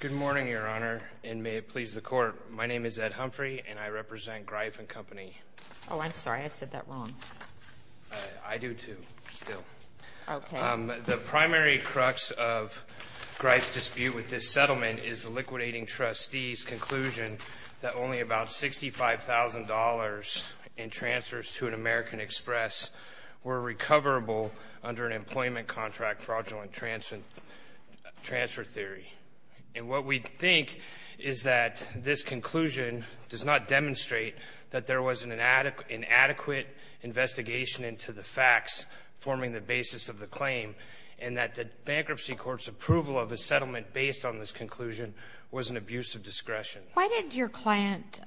Good morning, Your Honor, and may it please the Court. My name is Ed Humphrey, and I represent Greif & Co. Oh, I'm sorry. I said that wrong. I do too, still. Okay. The primary crux of Greif's dispute with this settlement is the liquidating trustee's conclusion that only about $65,000 in transfers to an American Express were recoverable under an employment contract fraudulent transfer theory. And what we think is that this conclusion does not demonstrate that there was an inadequate investigation into the facts forming the basis of the claim, and that the bankruptcy court's approval of a settlement based on this conclusion was an abuse of discretion. Why did your client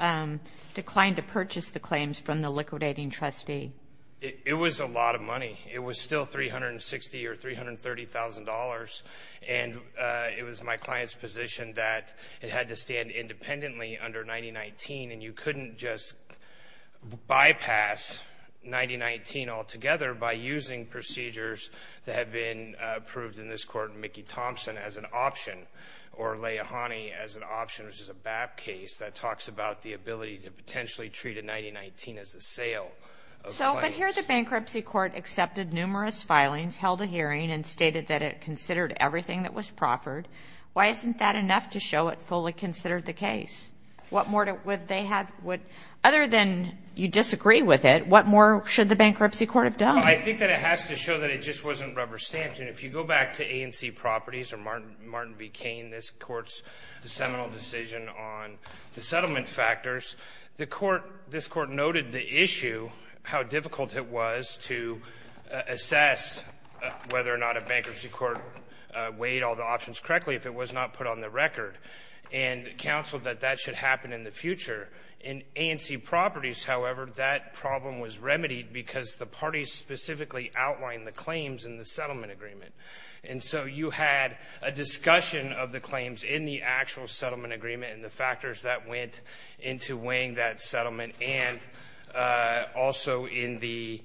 decline to purchase the claims from the liquidating trustee? It was a lot of money. It was still $360,000 or $330,000, and it was my client's position that it had to stand independently under 9019, and you couldn't just bypass 9019 altogether by using procedures that had been approved in this court in Mickey Thompson as an option or Laihani as an option, which is a BAP case, that talks about the ability to potentially treat a 9019 as a sale of claims. But here the bankruptcy court accepted numerous filings, held a hearing, and stated that it considered everything that was proffered. Why isn't that enough to show it fully considered the case? What more would they have? Other than you disagree with it, what more should the bankruptcy court have done? I think that it has to show that it just wasn't rubber stamped. And if you go back to ANC Properties or Martin V. Cain, this Court's seminal decision on the settlement factors, the Court — this Court noted the issue, how difficult it was to assess whether or not a bankruptcy court weighed all the options correctly if it was not put on the record, and counseled that that should happen in the future. In ANC Properties, however, that problem was remedied because the parties specifically outlined the claims in the settlement agreement. And so you had a discussion of the claims in the actual settlement agreement and the factors that went into weighing that settlement, and also in the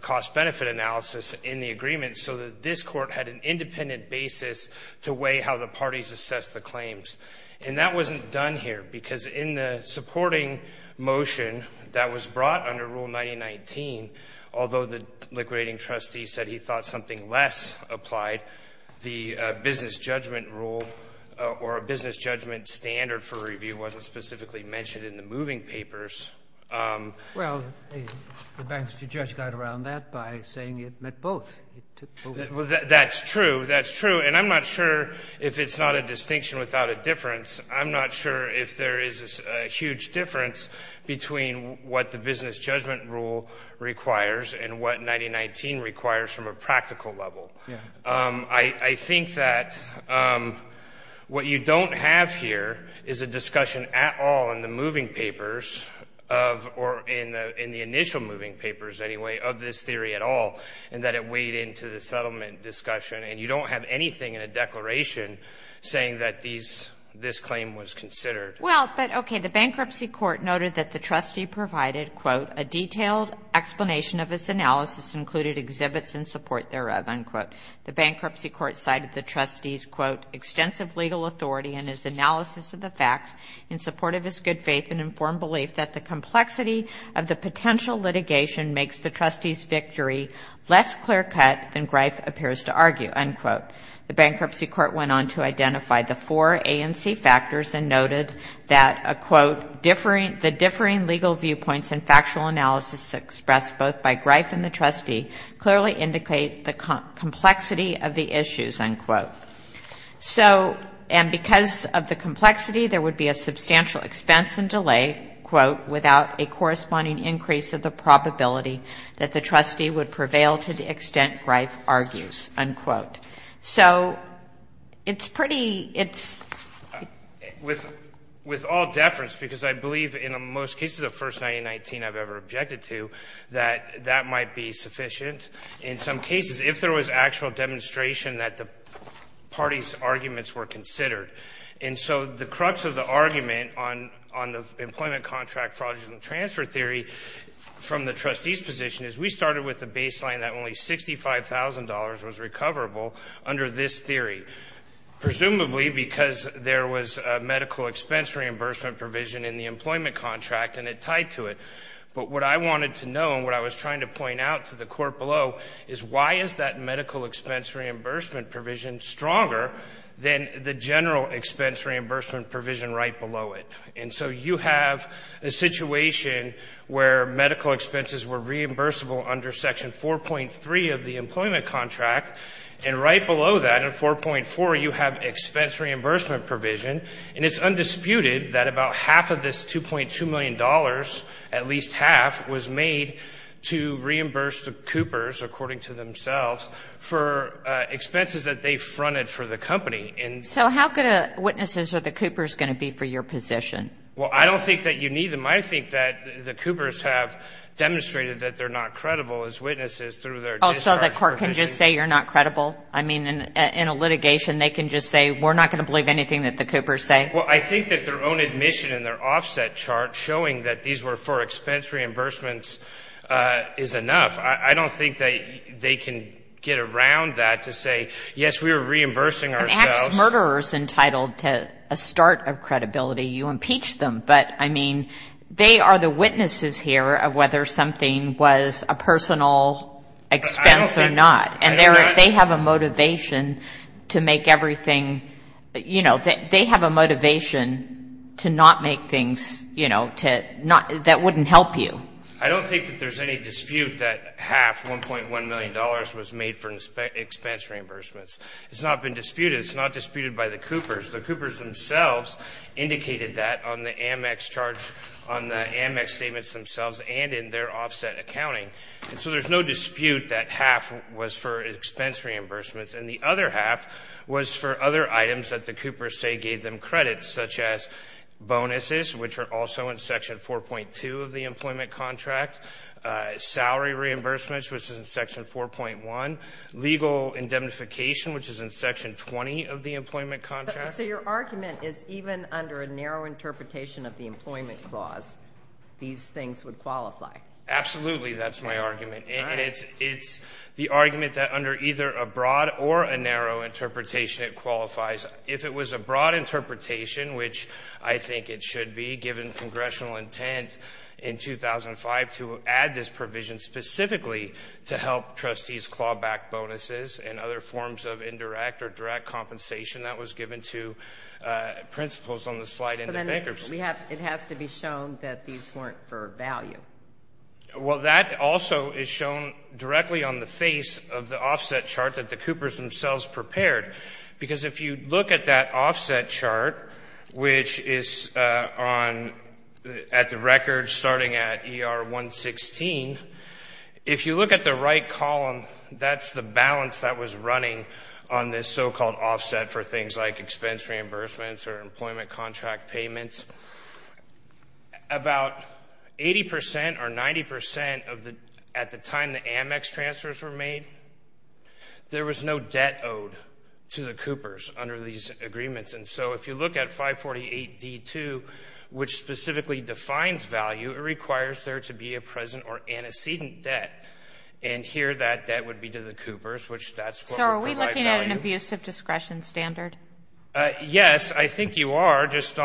cost-benefit analysis in the agreement, so that this Court had an independent basis to weigh how the parties assessed the claims. And that wasn't done here, because in the supporting motion that was brought under Rule 9019, although the liquidating trustee said he thought something less applied, the business judgment rule or business judgment standard for review wasn't specifically mentioned in the moving papers. Well, the bankruptcy judge got around that by saying it met both. Well, that's true. That's true. And I'm not sure if it's not a distinction without a difference. I'm not sure if there is a huge difference between what the business judgment rule requires and what 9019 requires from a practical level. I think that what you don't have here is a discussion at all in the moving papers of or in the initial moving papers, anyway, of this theory at all, and that it weighed into the settlement discussion. And you don't have anything in a declaration saying that this claim was considered. Well, but okay. The bankruptcy court noted that the trustee provided, quote, a detailed explanation of his analysis included exhibits in support thereof, unquote. The bankruptcy court cited the trustee's, quote, extensive legal authority in his analysis of the facts in support of his good faith and informed belief that the complexity of the potential litigation makes the trustee's victory less clear-cut than Greif appears to argue, unquote. The bankruptcy court went on to identify the four ANC factors and noted that, quote, the differing legal viewpoints and factual analysis expressed both by Greif and the trustee clearly indicate the complexity of the issues, unquote. So, and because of the complexity, there would be a substantial expense and delay, quote, without a corresponding increase of the probability that the trustee would prevail to the extent Greif argues, unquote. So it's pretty – it's – With all deference, because I believe in most cases of First 1919 I've ever objected to, that that might be sufficient. In some cases, if there was actual demonstration that the parties' arguments were considered. And so the crux of the argument on the employment contract fraudulent transfer theory from the trustee's position is we started with the baseline that only $65,000 was recoverable under this theory, presumably because there was a medical expense reimbursement provision in the employment contract and it tied to it. But what I wanted to know and what I was trying to point out to the Court below is why is that medical expense reimbursement provision stronger than the general expense reimbursement provision right below it? And so you have a situation where medical expenses were reimbursable under Section 4.3 of the employment contract, and right below that in 4.4 you have expense reimbursement provision, and it's undisputed that about half of this $2.2 million at least half was made to reimburse the Coopers, according to themselves, for expenses that they fronted for the company. And so how good of witnesses are the Coopers going to be for your position? Well, I don't think that you need them. I think that the Coopers have demonstrated that they're not credible as witnesses through their discharge provisions. Oh, so the Court can just say you're not credible? I mean, in a litigation they can just say we're not going to believe anything that the Coopers say? Well, I think that their own admission in their offset chart showing that these were for expense reimbursements is enough. I don't think that they can get around that to say, yes, we were reimbursing ourselves. An act's murderer is entitled to a start of credibility. You impeach them. But, I mean, they are the witnesses here of whether something was a personal expense or not. And they have a motivation to make everything, you know, they have a motivation to not make things, you know, that wouldn't help you. I don't think that there's any dispute that half, $1.1 million, was made for expense reimbursements. It's not been disputed. It's not disputed by the Coopers. The Coopers themselves indicated that on the Amex charge, on the Amex statements themselves and in their offset accounting. And so there's no dispute that half was for expense reimbursements and the other half was for other items that the Coopers say gave them credits, such as bonuses, which are also in Section 4.2 of the employment contract, salary reimbursements, which is in Section 4.1, legal indemnification, which is in Section 20 of the employment contract. So your argument is even under a narrow interpretation of the employment clause, these things would qualify. Absolutely. That's my argument. And it's the argument that under either a broad or a narrow interpretation, it qualifies. If it was a broad interpretation, which I think it should be, given congressional intent in 2005 to add this provision specifically to help trustees claw back bonuses and other forms of indirect or direct compensation that was given to principals on the slide in the bankruptcy. But then it has to be shown that these weren't for value. Well, that also is shown directly on the face of the offset chart that the Coopers themselves prepared. Because if you look at that offset chart, which is at the record starting at ER 116, if you look at the right column, that's the balance that was running on this so-called offset for things like expense reimbursements or employment contract payments. About 80 percent or 90 percent of the at the time the Amex transfers were made, there was no debt owed to the Coopers under these agreements. And so if you look at 548D2, which specifically defines value, it requires there to be a present or antecedent debt. And here that debt would be to the Coopers, which that's what would provide value. So are we looking at an abusive discretion standard? Yes. I think you are. That's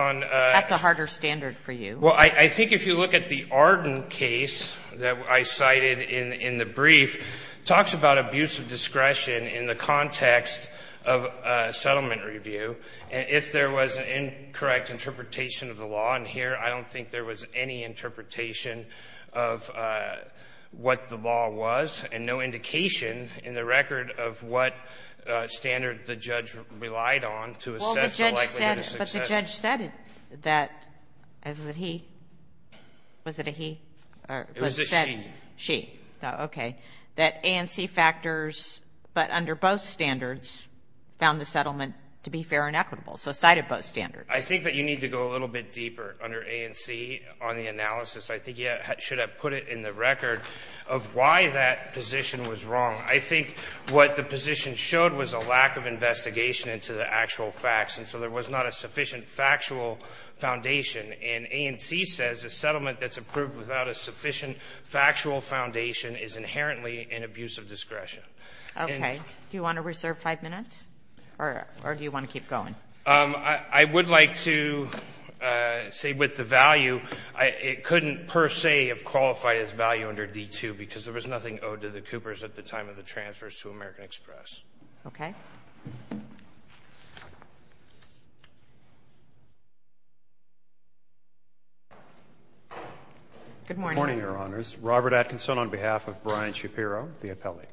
a harder standard for you. Well, I think if you look at the Arden case that I cited in the brief, it talks about abusive discretion in the context of a settlement review. If there was an incorrect interpretation of the law in here, I don't think there was any interpretation of what the law was and no indication in the record of what standard the judge relied on to assess the likelihood of success. Well, the judge said it, but the judge said that, was it he? Was it a he? It was a she. She. Okay. That ANC factors, but under both standards, found the settlement to be fair and equitable. So cited both standards. I think that you need to go a little bit deeper under ANC on the analysis. I think you should have put it in the record of why that position was wrong. I think what the position showed was a lack of investigation into the actual facts, and so there was not a sufficient factual foundation. And ANC says a settlement that's approved without a sufficient factual foundation is inherently an abuse of discretion. Okay. Do you want to reserve five minutes, or do you want to keep going? I would like to say with the value, it couldn't per se have qualified as value under D-2, because there was nothing owed to the Coopers at the time of the transfers to American Express. Okay. Good morning, Your Honors. Good morning, Your Honors. Robert Atkinson on behalf of Brian Shapiro, the appellee.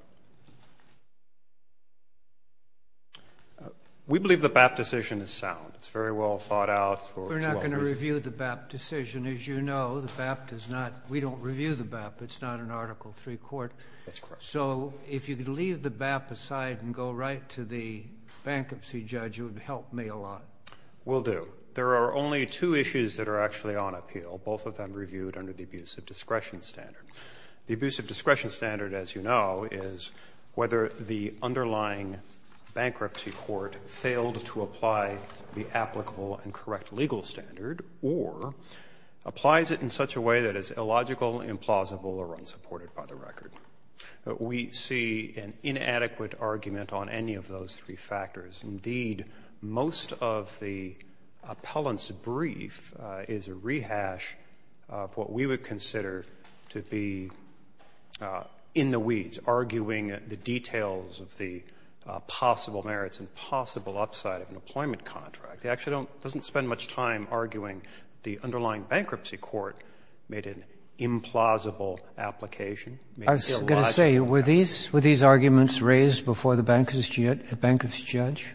We believe the BAP decision is sound. It's very well thought out. We're not going to review the BAP decision. As you know, the BAP does not we don't review the BAP. It's not an Article III court. That's correct. So if you could leave the BAP aside and go right to the bankruptcy judge, it would help me a lot. Will do. There are only two issues that are actually on appeal, both of them reviewed under the abuse of discretion standard. The abuse of discretion standard, as you know, is whether the underlying bankruptcy court failed to apply the applicable and correct legal standard or applies it in such a way that is illogical, implausible, or unsupported by the record. We see an inadequate argument on any of those three factors. Indeed, most of the appellant's brief is a rehash of what we would consider to be in the weeds, arguing the details of the possible merits and possible upside of an employment contract. It actually doesn't spend much time arguing the underlying bankruptcy court made an implausible application. I was going to say, were these arguments raised before the bankruptcy judge?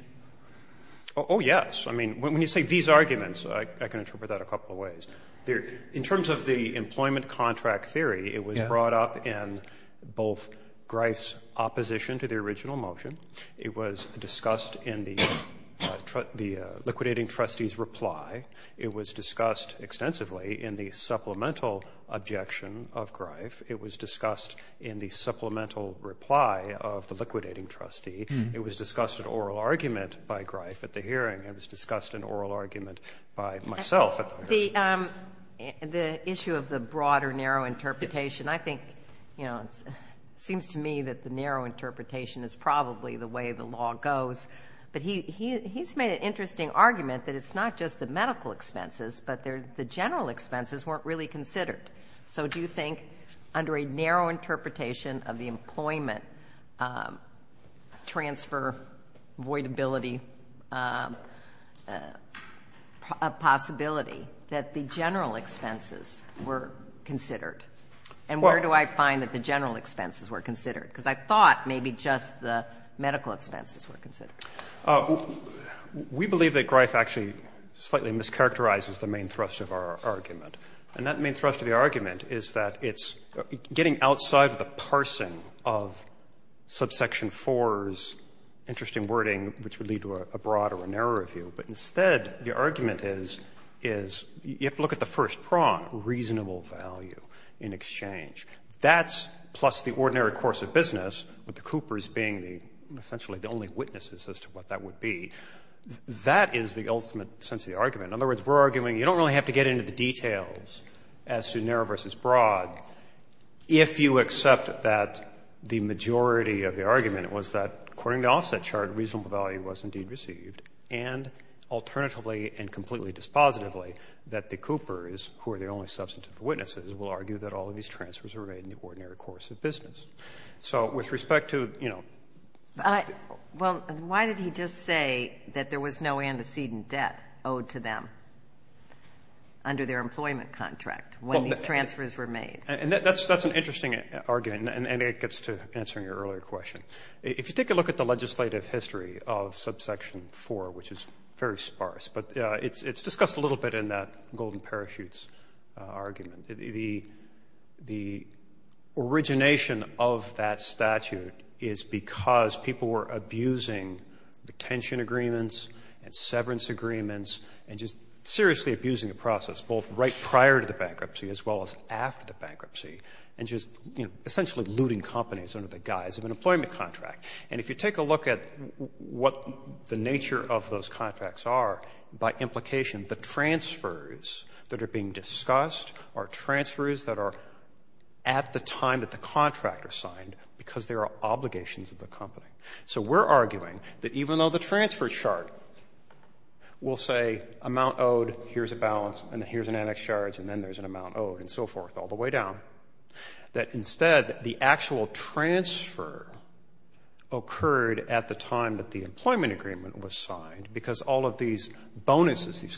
Oh, yes. I mean, when you say these arguments, I can interpret that a couple of ways. In terms of the employment contract theory, it was brought up in both Grief's opposition to the original motion, it was discussed in the liquidating trustee's reply, it was discussed extensively in the supplemental objection of Grief, it was discussed in the supplemental reply of the liquidating trustee, it was discussed in oral argument by Grief at the hearing, it was discussed in oral argument by myself at the hearing. The issue of the broader narrow interpretation, I think, you know, it seems to me that the narrow interpretation is probably the way the law goes, but he's made an interesting argument that it's not just the medical expenses, but the general expenses weren't really considered. So do you think under a narrow interpretation of the employment transfer avoidability possibility that the general expenses were considered? And where do I find that the general expenses were considered? Because I thought maybe just the medical expenses were considered. We believe that Grief actually slightly mischaracterizes the main thrust of our argument. And that main thrust of the argument is that it's getting outside of the parsing of subsection 4's interesting wording, which would lead to a broad or a narrow review, but instead the argument is, is you have to look at the first prong, reasonable value in exchange. That's plus the ordinary course of business, with the Coopers being the essentially the only witnesses as to what that would be, that is the ultimate sense of the argument. In other words, we're arguing you don't really have to get into the details as to narrow versus broad if you accept that the majority of the argument was that, according to the offset chart, reasonable value was indeed received. And alternatively and completely dispositively, that the Coopers, who are the only substantive witnesses, will argue that all of these transfers are made in the ordinary So with respect to, you know. Well, why did he just say that there was no antecedent debt owed to them under their employment contract when these transfers were made? That's an interesting argument, and it gets to answering your earlier question. If you take a look at the legislative history of subsection 4, which is very sparse, but it's discussed a little bit in that golden parachutes argument. The origination of that statute is because people were abusing the tension agreements and severance agreements and just seriously abusing the process, both right prior to the bankruptcy as well as after the bankruptcy, and just, you know, essentially looting companies under the guise of an employment contract. And if you take a look at what the nature of those contracts are, by implication, the transfers that are being discussed are transfers that are at the time that the contractor signed because there are obligations of the company. So we're arguing that even though the transfer chart will say amount owed, here's a balance, and here's an annex charge, and then there's an amount owed and so forth all the way down, that instead the actual transfer occurred at the time that the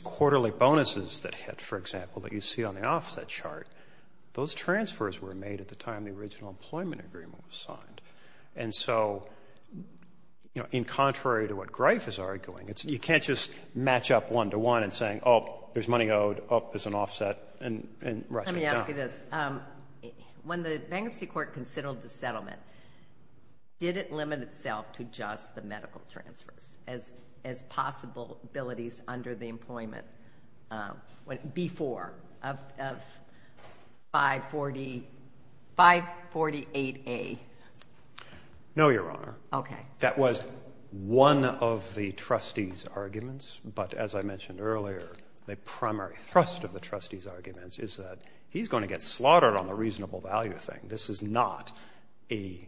quarterly bonuses that hit, for example, that you see on the offset chart, those transfers were made at the time the original employment agreement was signed. And so, you know, in contrary to what Greif is arguing, you can't just match up one to one and saying, oh, there's money owed, oh, there's an offset, and rush it down. Let me ask you this. When the bankruptcy court considered the settlement, did it limit itself to just the B-4 of 548A? No, Your Honor. Okay. That was one of the trustees' arguments. But as I mentioned earlier, the primary thrust of the trustees' arguments is that he's going to get slaughtered on the reasonable value thing. This is not a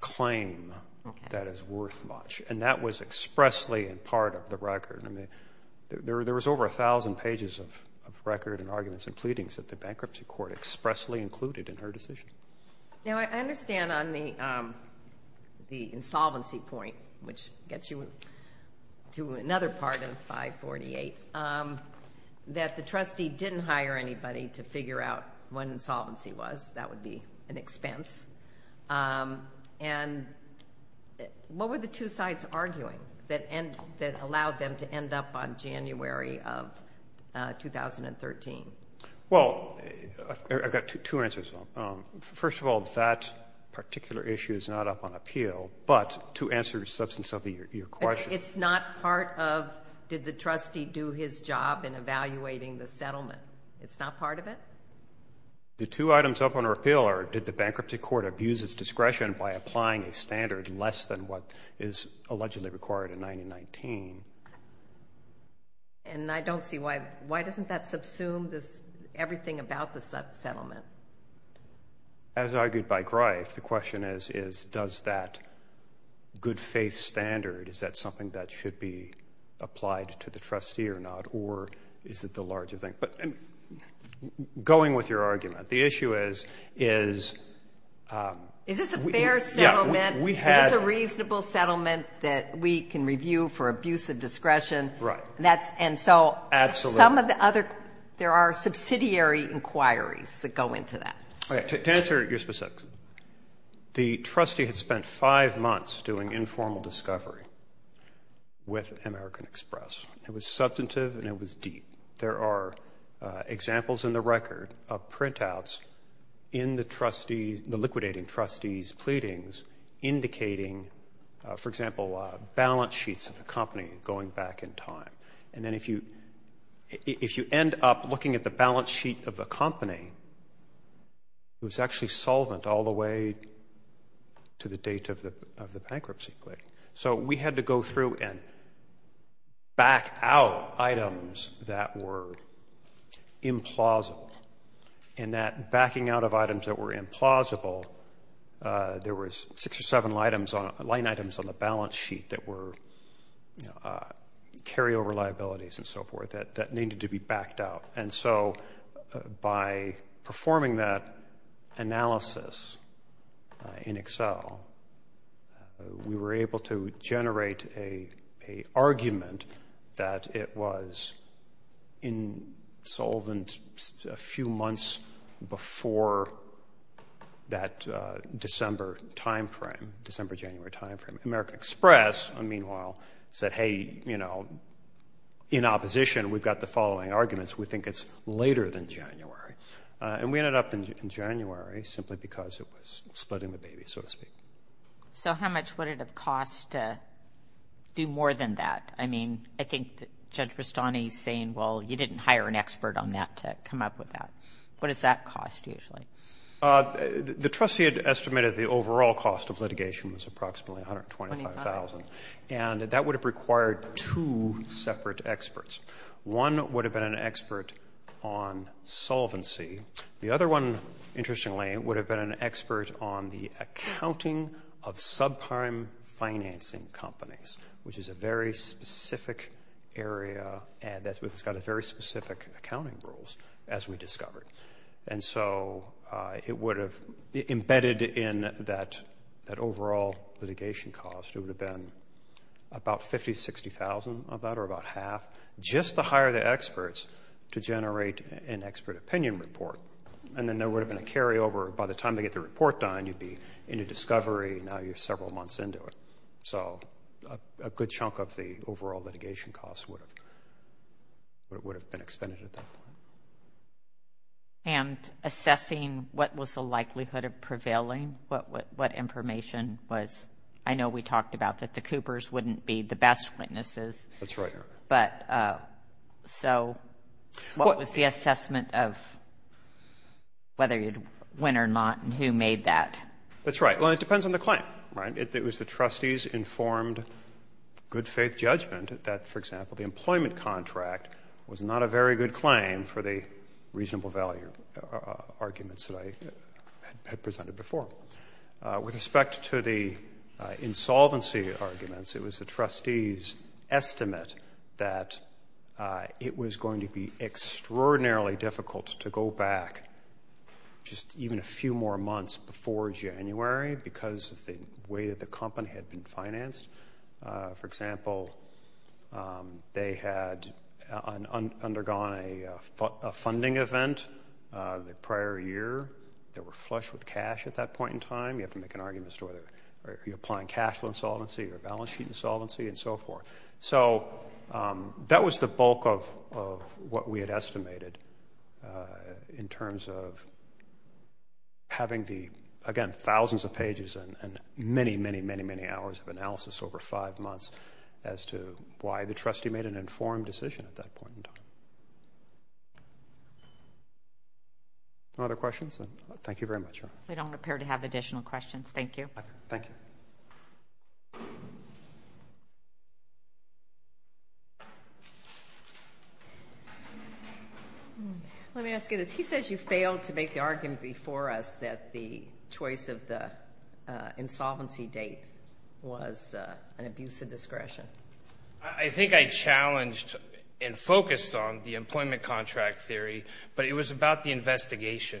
claim that is worth much. And that was expressly in part of the record. There was over 1,000 pages of record and arguments and pleadings that the bankruptcy court expressly included in her decision. Now, I understand on the insolvency point, which gets you to another part of 548, that the trustee didn't hire anybody to figure out what insolvency was. That would be an expense. And what were the two sides arguing that allowed them to end up on January of 2013? Well, I've got two answers. First of all, that particular issue is not up on appeal. But to answer the substance of your question. It's not part of did the trustee do his job in evaluating the settlement? It's not part of it? The two items up on appeal are did the bankruptcy court abuse its discretion by applying a standard less than what is allegedly required in 1919? And I don't see why. Why doesn't that subsume everything about the settlement? As argued by Greif, the question is, does that good faith standard, is that something that should be applied to the trustee or not? Or is it the larger thing? Going with your argument, the issue is. Is this a fair settlement? Yeah, we had. Is this a reasonable settlement that we can review for abuse of discretion? Right. And so. Absolutely. Some of the other, there are subsidiary inquiries that go into that. To answer your specific. The trustee had spent five months doing informal discovery with American Express. It was substantive and it was deep. There are examples in the record of printouts in the trustees, the liquidating trustees' pleadings indicating, for example, balance sheets of the company going back in time. And then if you end up looking at the balance sheet of the company, it was actually solvent all the way to the date of the bankruptcy plea. So we had to go through and back out items that were implausible. And that backing out of items that were implausible, there was six or seven line items on the balance sheet that were carryover liabilities and so forth that needed to be backed out. And so by performing that analysis in Excel, we were able to generate an argument that it was in solvent a few months before that December time frame, December-January time frame. American Express, meanwhile, said, hey, you know, in opposition, we've got the following arguments. We think it's later than January. And we ended up in January simply because it was splitting the baby, so to speak. So how much would it have cost to do more than that? I mean, I think Judge Rastani is saying, well, you didn't hire an expert on that to come up with that. What does that cost usually? The trustee had estimated the overall cost of litigation was approximately $125,000, and that would have required two separate experts. One would have been an expert on solvency. The other one, interestingly, would have been an expert on the accounting of subprime financing companies, which is a very specific area that's got very specific accounting rules, as we discovered. And so it would have embedded in that overall litigation cost. It would have been about $50,000, $60,000 of that, or about half, just to hire the experts to generate an expert opinion report. And then there would have been a carryover. By the time they get the report done, you'd be into discovery. Now you're several months into it. So a good chunk of the overall litigation cost would have been expended at that point. And assessing what was the likelihood of prevailing, what information was? I know we talked about that the Coopers wouldn't be the best witnesses. That's right, Your Honor. But so what was the assessment of whether you'd win or not and who made that? That's right. Well, it depends on the claim, right? It was the trustee's informed good-faith judgment that, for example, the employment contract was not a very good claim for the reasonable value arguments that I had presented before. With respect to the insolvency arguments, it was the trustee's estimate that it was going to be extraordinarily difficult to go back just even a few more months before January because of the way that the company had been financed. For example, they had undergone a funding event the prior year. They were flush with cash at that point in time. You have to make an argument as to whether you're applying cash flow insolvency or balance sheet insolvency and so forth. So that was the bulk of what we had estimated in terms of having the, again, thousands of pages and many, many, many, many hours of analysis over five months as to why the trustee made an informed decision at that point in time. No other questions? Thank you very much. We don't appear to have additional questions. Thank you. Thank you. Let me ask you this. He says you failed to make the argument before us that the choice of the insolvency date was an abuse of discretion. I think I challenged and focused on the employment contract theory, but it was about the investigation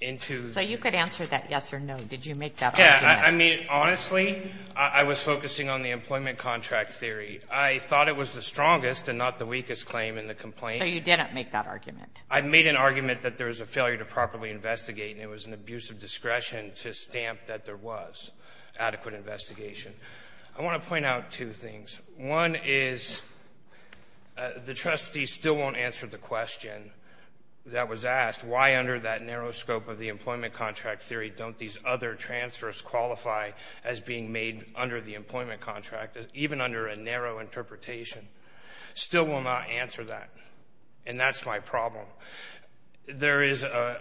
into the — So you could answer that yes or no. Did you make that argument? Yeah. I mean, honestly, I was focusing on the employment contract theory. I thought it was the strongest and not the weakest claim in the complaint. So you didn't make that argument. I made an argument that there was a failure to properly investigate, and it was an abuse of discretion to stamp that there was adequate investigation. I want to point out two things. One is the trustee still won't answer the question that was asked, why under that narrow scope of the employment contract theory don't these other transfers qualify as being made under the employment contract, even under a narrow interpretation? Still will not answer that, and that's my problem. There is a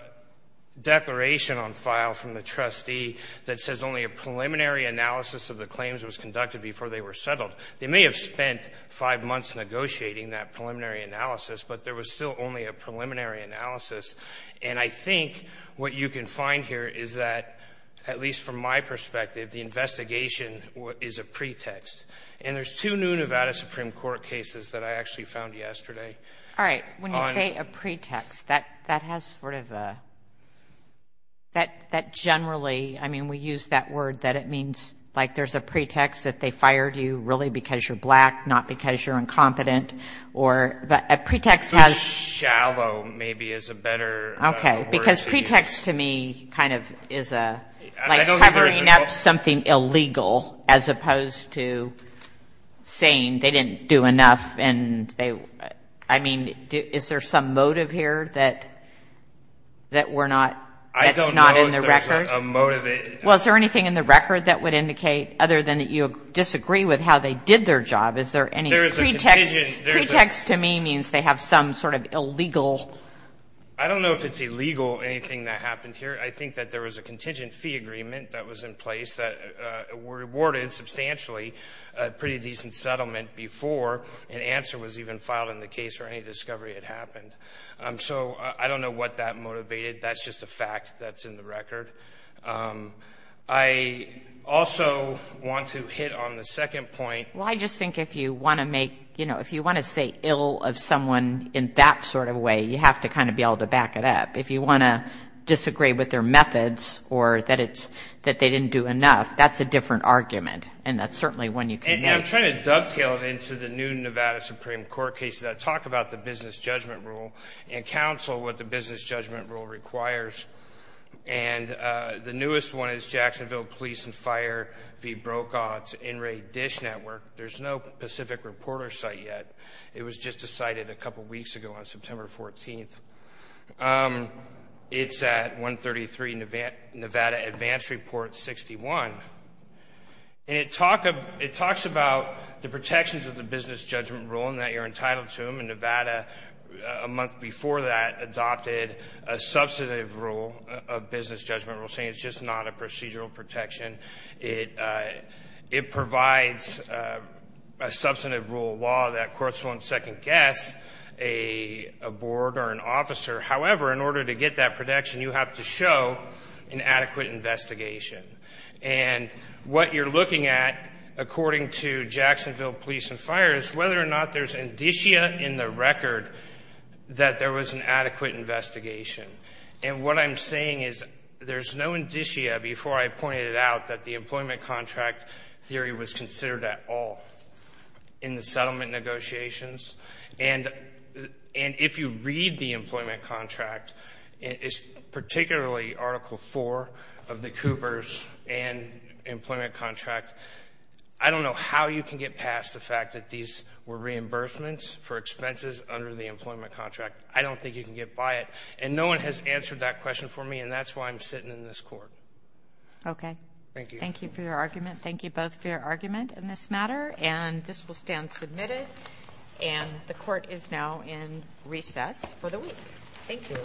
declaration on file from the trustee that says only a preliminary analysis of the claims was conducted before they were settled. They may have spent five months negotiating that preliminary analysis, but there was still only a preliminary analysis. And I think what you can find here is that, at least from my perspective, the investigation is a pretext. And there's two new Nevada Supreme Court cases that I actually found yesterday. All right. When you say a pretext, that has sort of a — that generally — I mean, when we use that word, that it means, like, there's a pretext that they fired you really because you're black, not because you're incompetent, or a pretext has — So shallow, maybe, is a better word to use. Okay. Because pretext to me kind of is a — I don't think there's a — Like covering up something illegal as opposed to saying they didn't do enough and they — I mean, is there some motive here that we're not — that's not in the record? Well, is there anything in the record that would indicate, other than that you disagree with how they did their job, is there any pretext? There is a contingent — Pretext to me means they have some sort of illegal — I don't know if it's illegal, anything that happened here. I think that there was a contingent fee agreement that was in place that rewarded substantially a pretty decent settlement before an answer was even filed in the case or any discovery had happened. So I don't know what that motivated. That's just a fact that's in the record. I also want to hit on the second point. Well, I just think if you want to make — you know, if you want to say ill of someone in that sort of way, you have to kind of be able to back it up. If you want to disagree with their methods or that they didn't do enough, that's a different argument, and that's certainly one you can use. And I'm trying to dovetail it into the new Nevada Supreme Court cases. I talk about the business judgment rule and counsel what the business judgment rule requires. And the newest one is Jacksonville Police and Fire v. Brokaw. It's NRA DISH Network. There's no Pacific Reporter site yet. It was just decided a couple weeks ago on September 14th. It's at 133 Nevada Advance Report 61. And it talks about the protections of the business judgment rule and that you're entitled to them. And Nevada, a month before that, adopted a substantive rule, a business judgment rule, saying it's just not a procedural protection. It provides a substantive rule of law that courts won't second-guess a board or an officer. However, in order to get that protection, you have to show an adequate investigation. And what you're looking at, according to Jacksonville Police and Fire, is whether or not there's indicia in the record that there was an adequate investigation. And what I'm saying is there's no indicia, before I pointed it out, that the employment contract theory was considered at all in the settlement negotiations. And if you read the employment contract, it's particularly Article IV of the Coopers and employment contract. I don't know how you can get past the fact that these were reimbursements for expenses under the employment contract. I don't think you can get by it. And no one has answered that question for me, and that's why I'm sitting in this court. Kagan. Thank you. Thank you for your argument. Thank you both for your argument in this matter. And this will stand submitted. And the court is now in recess for the week. Thank you.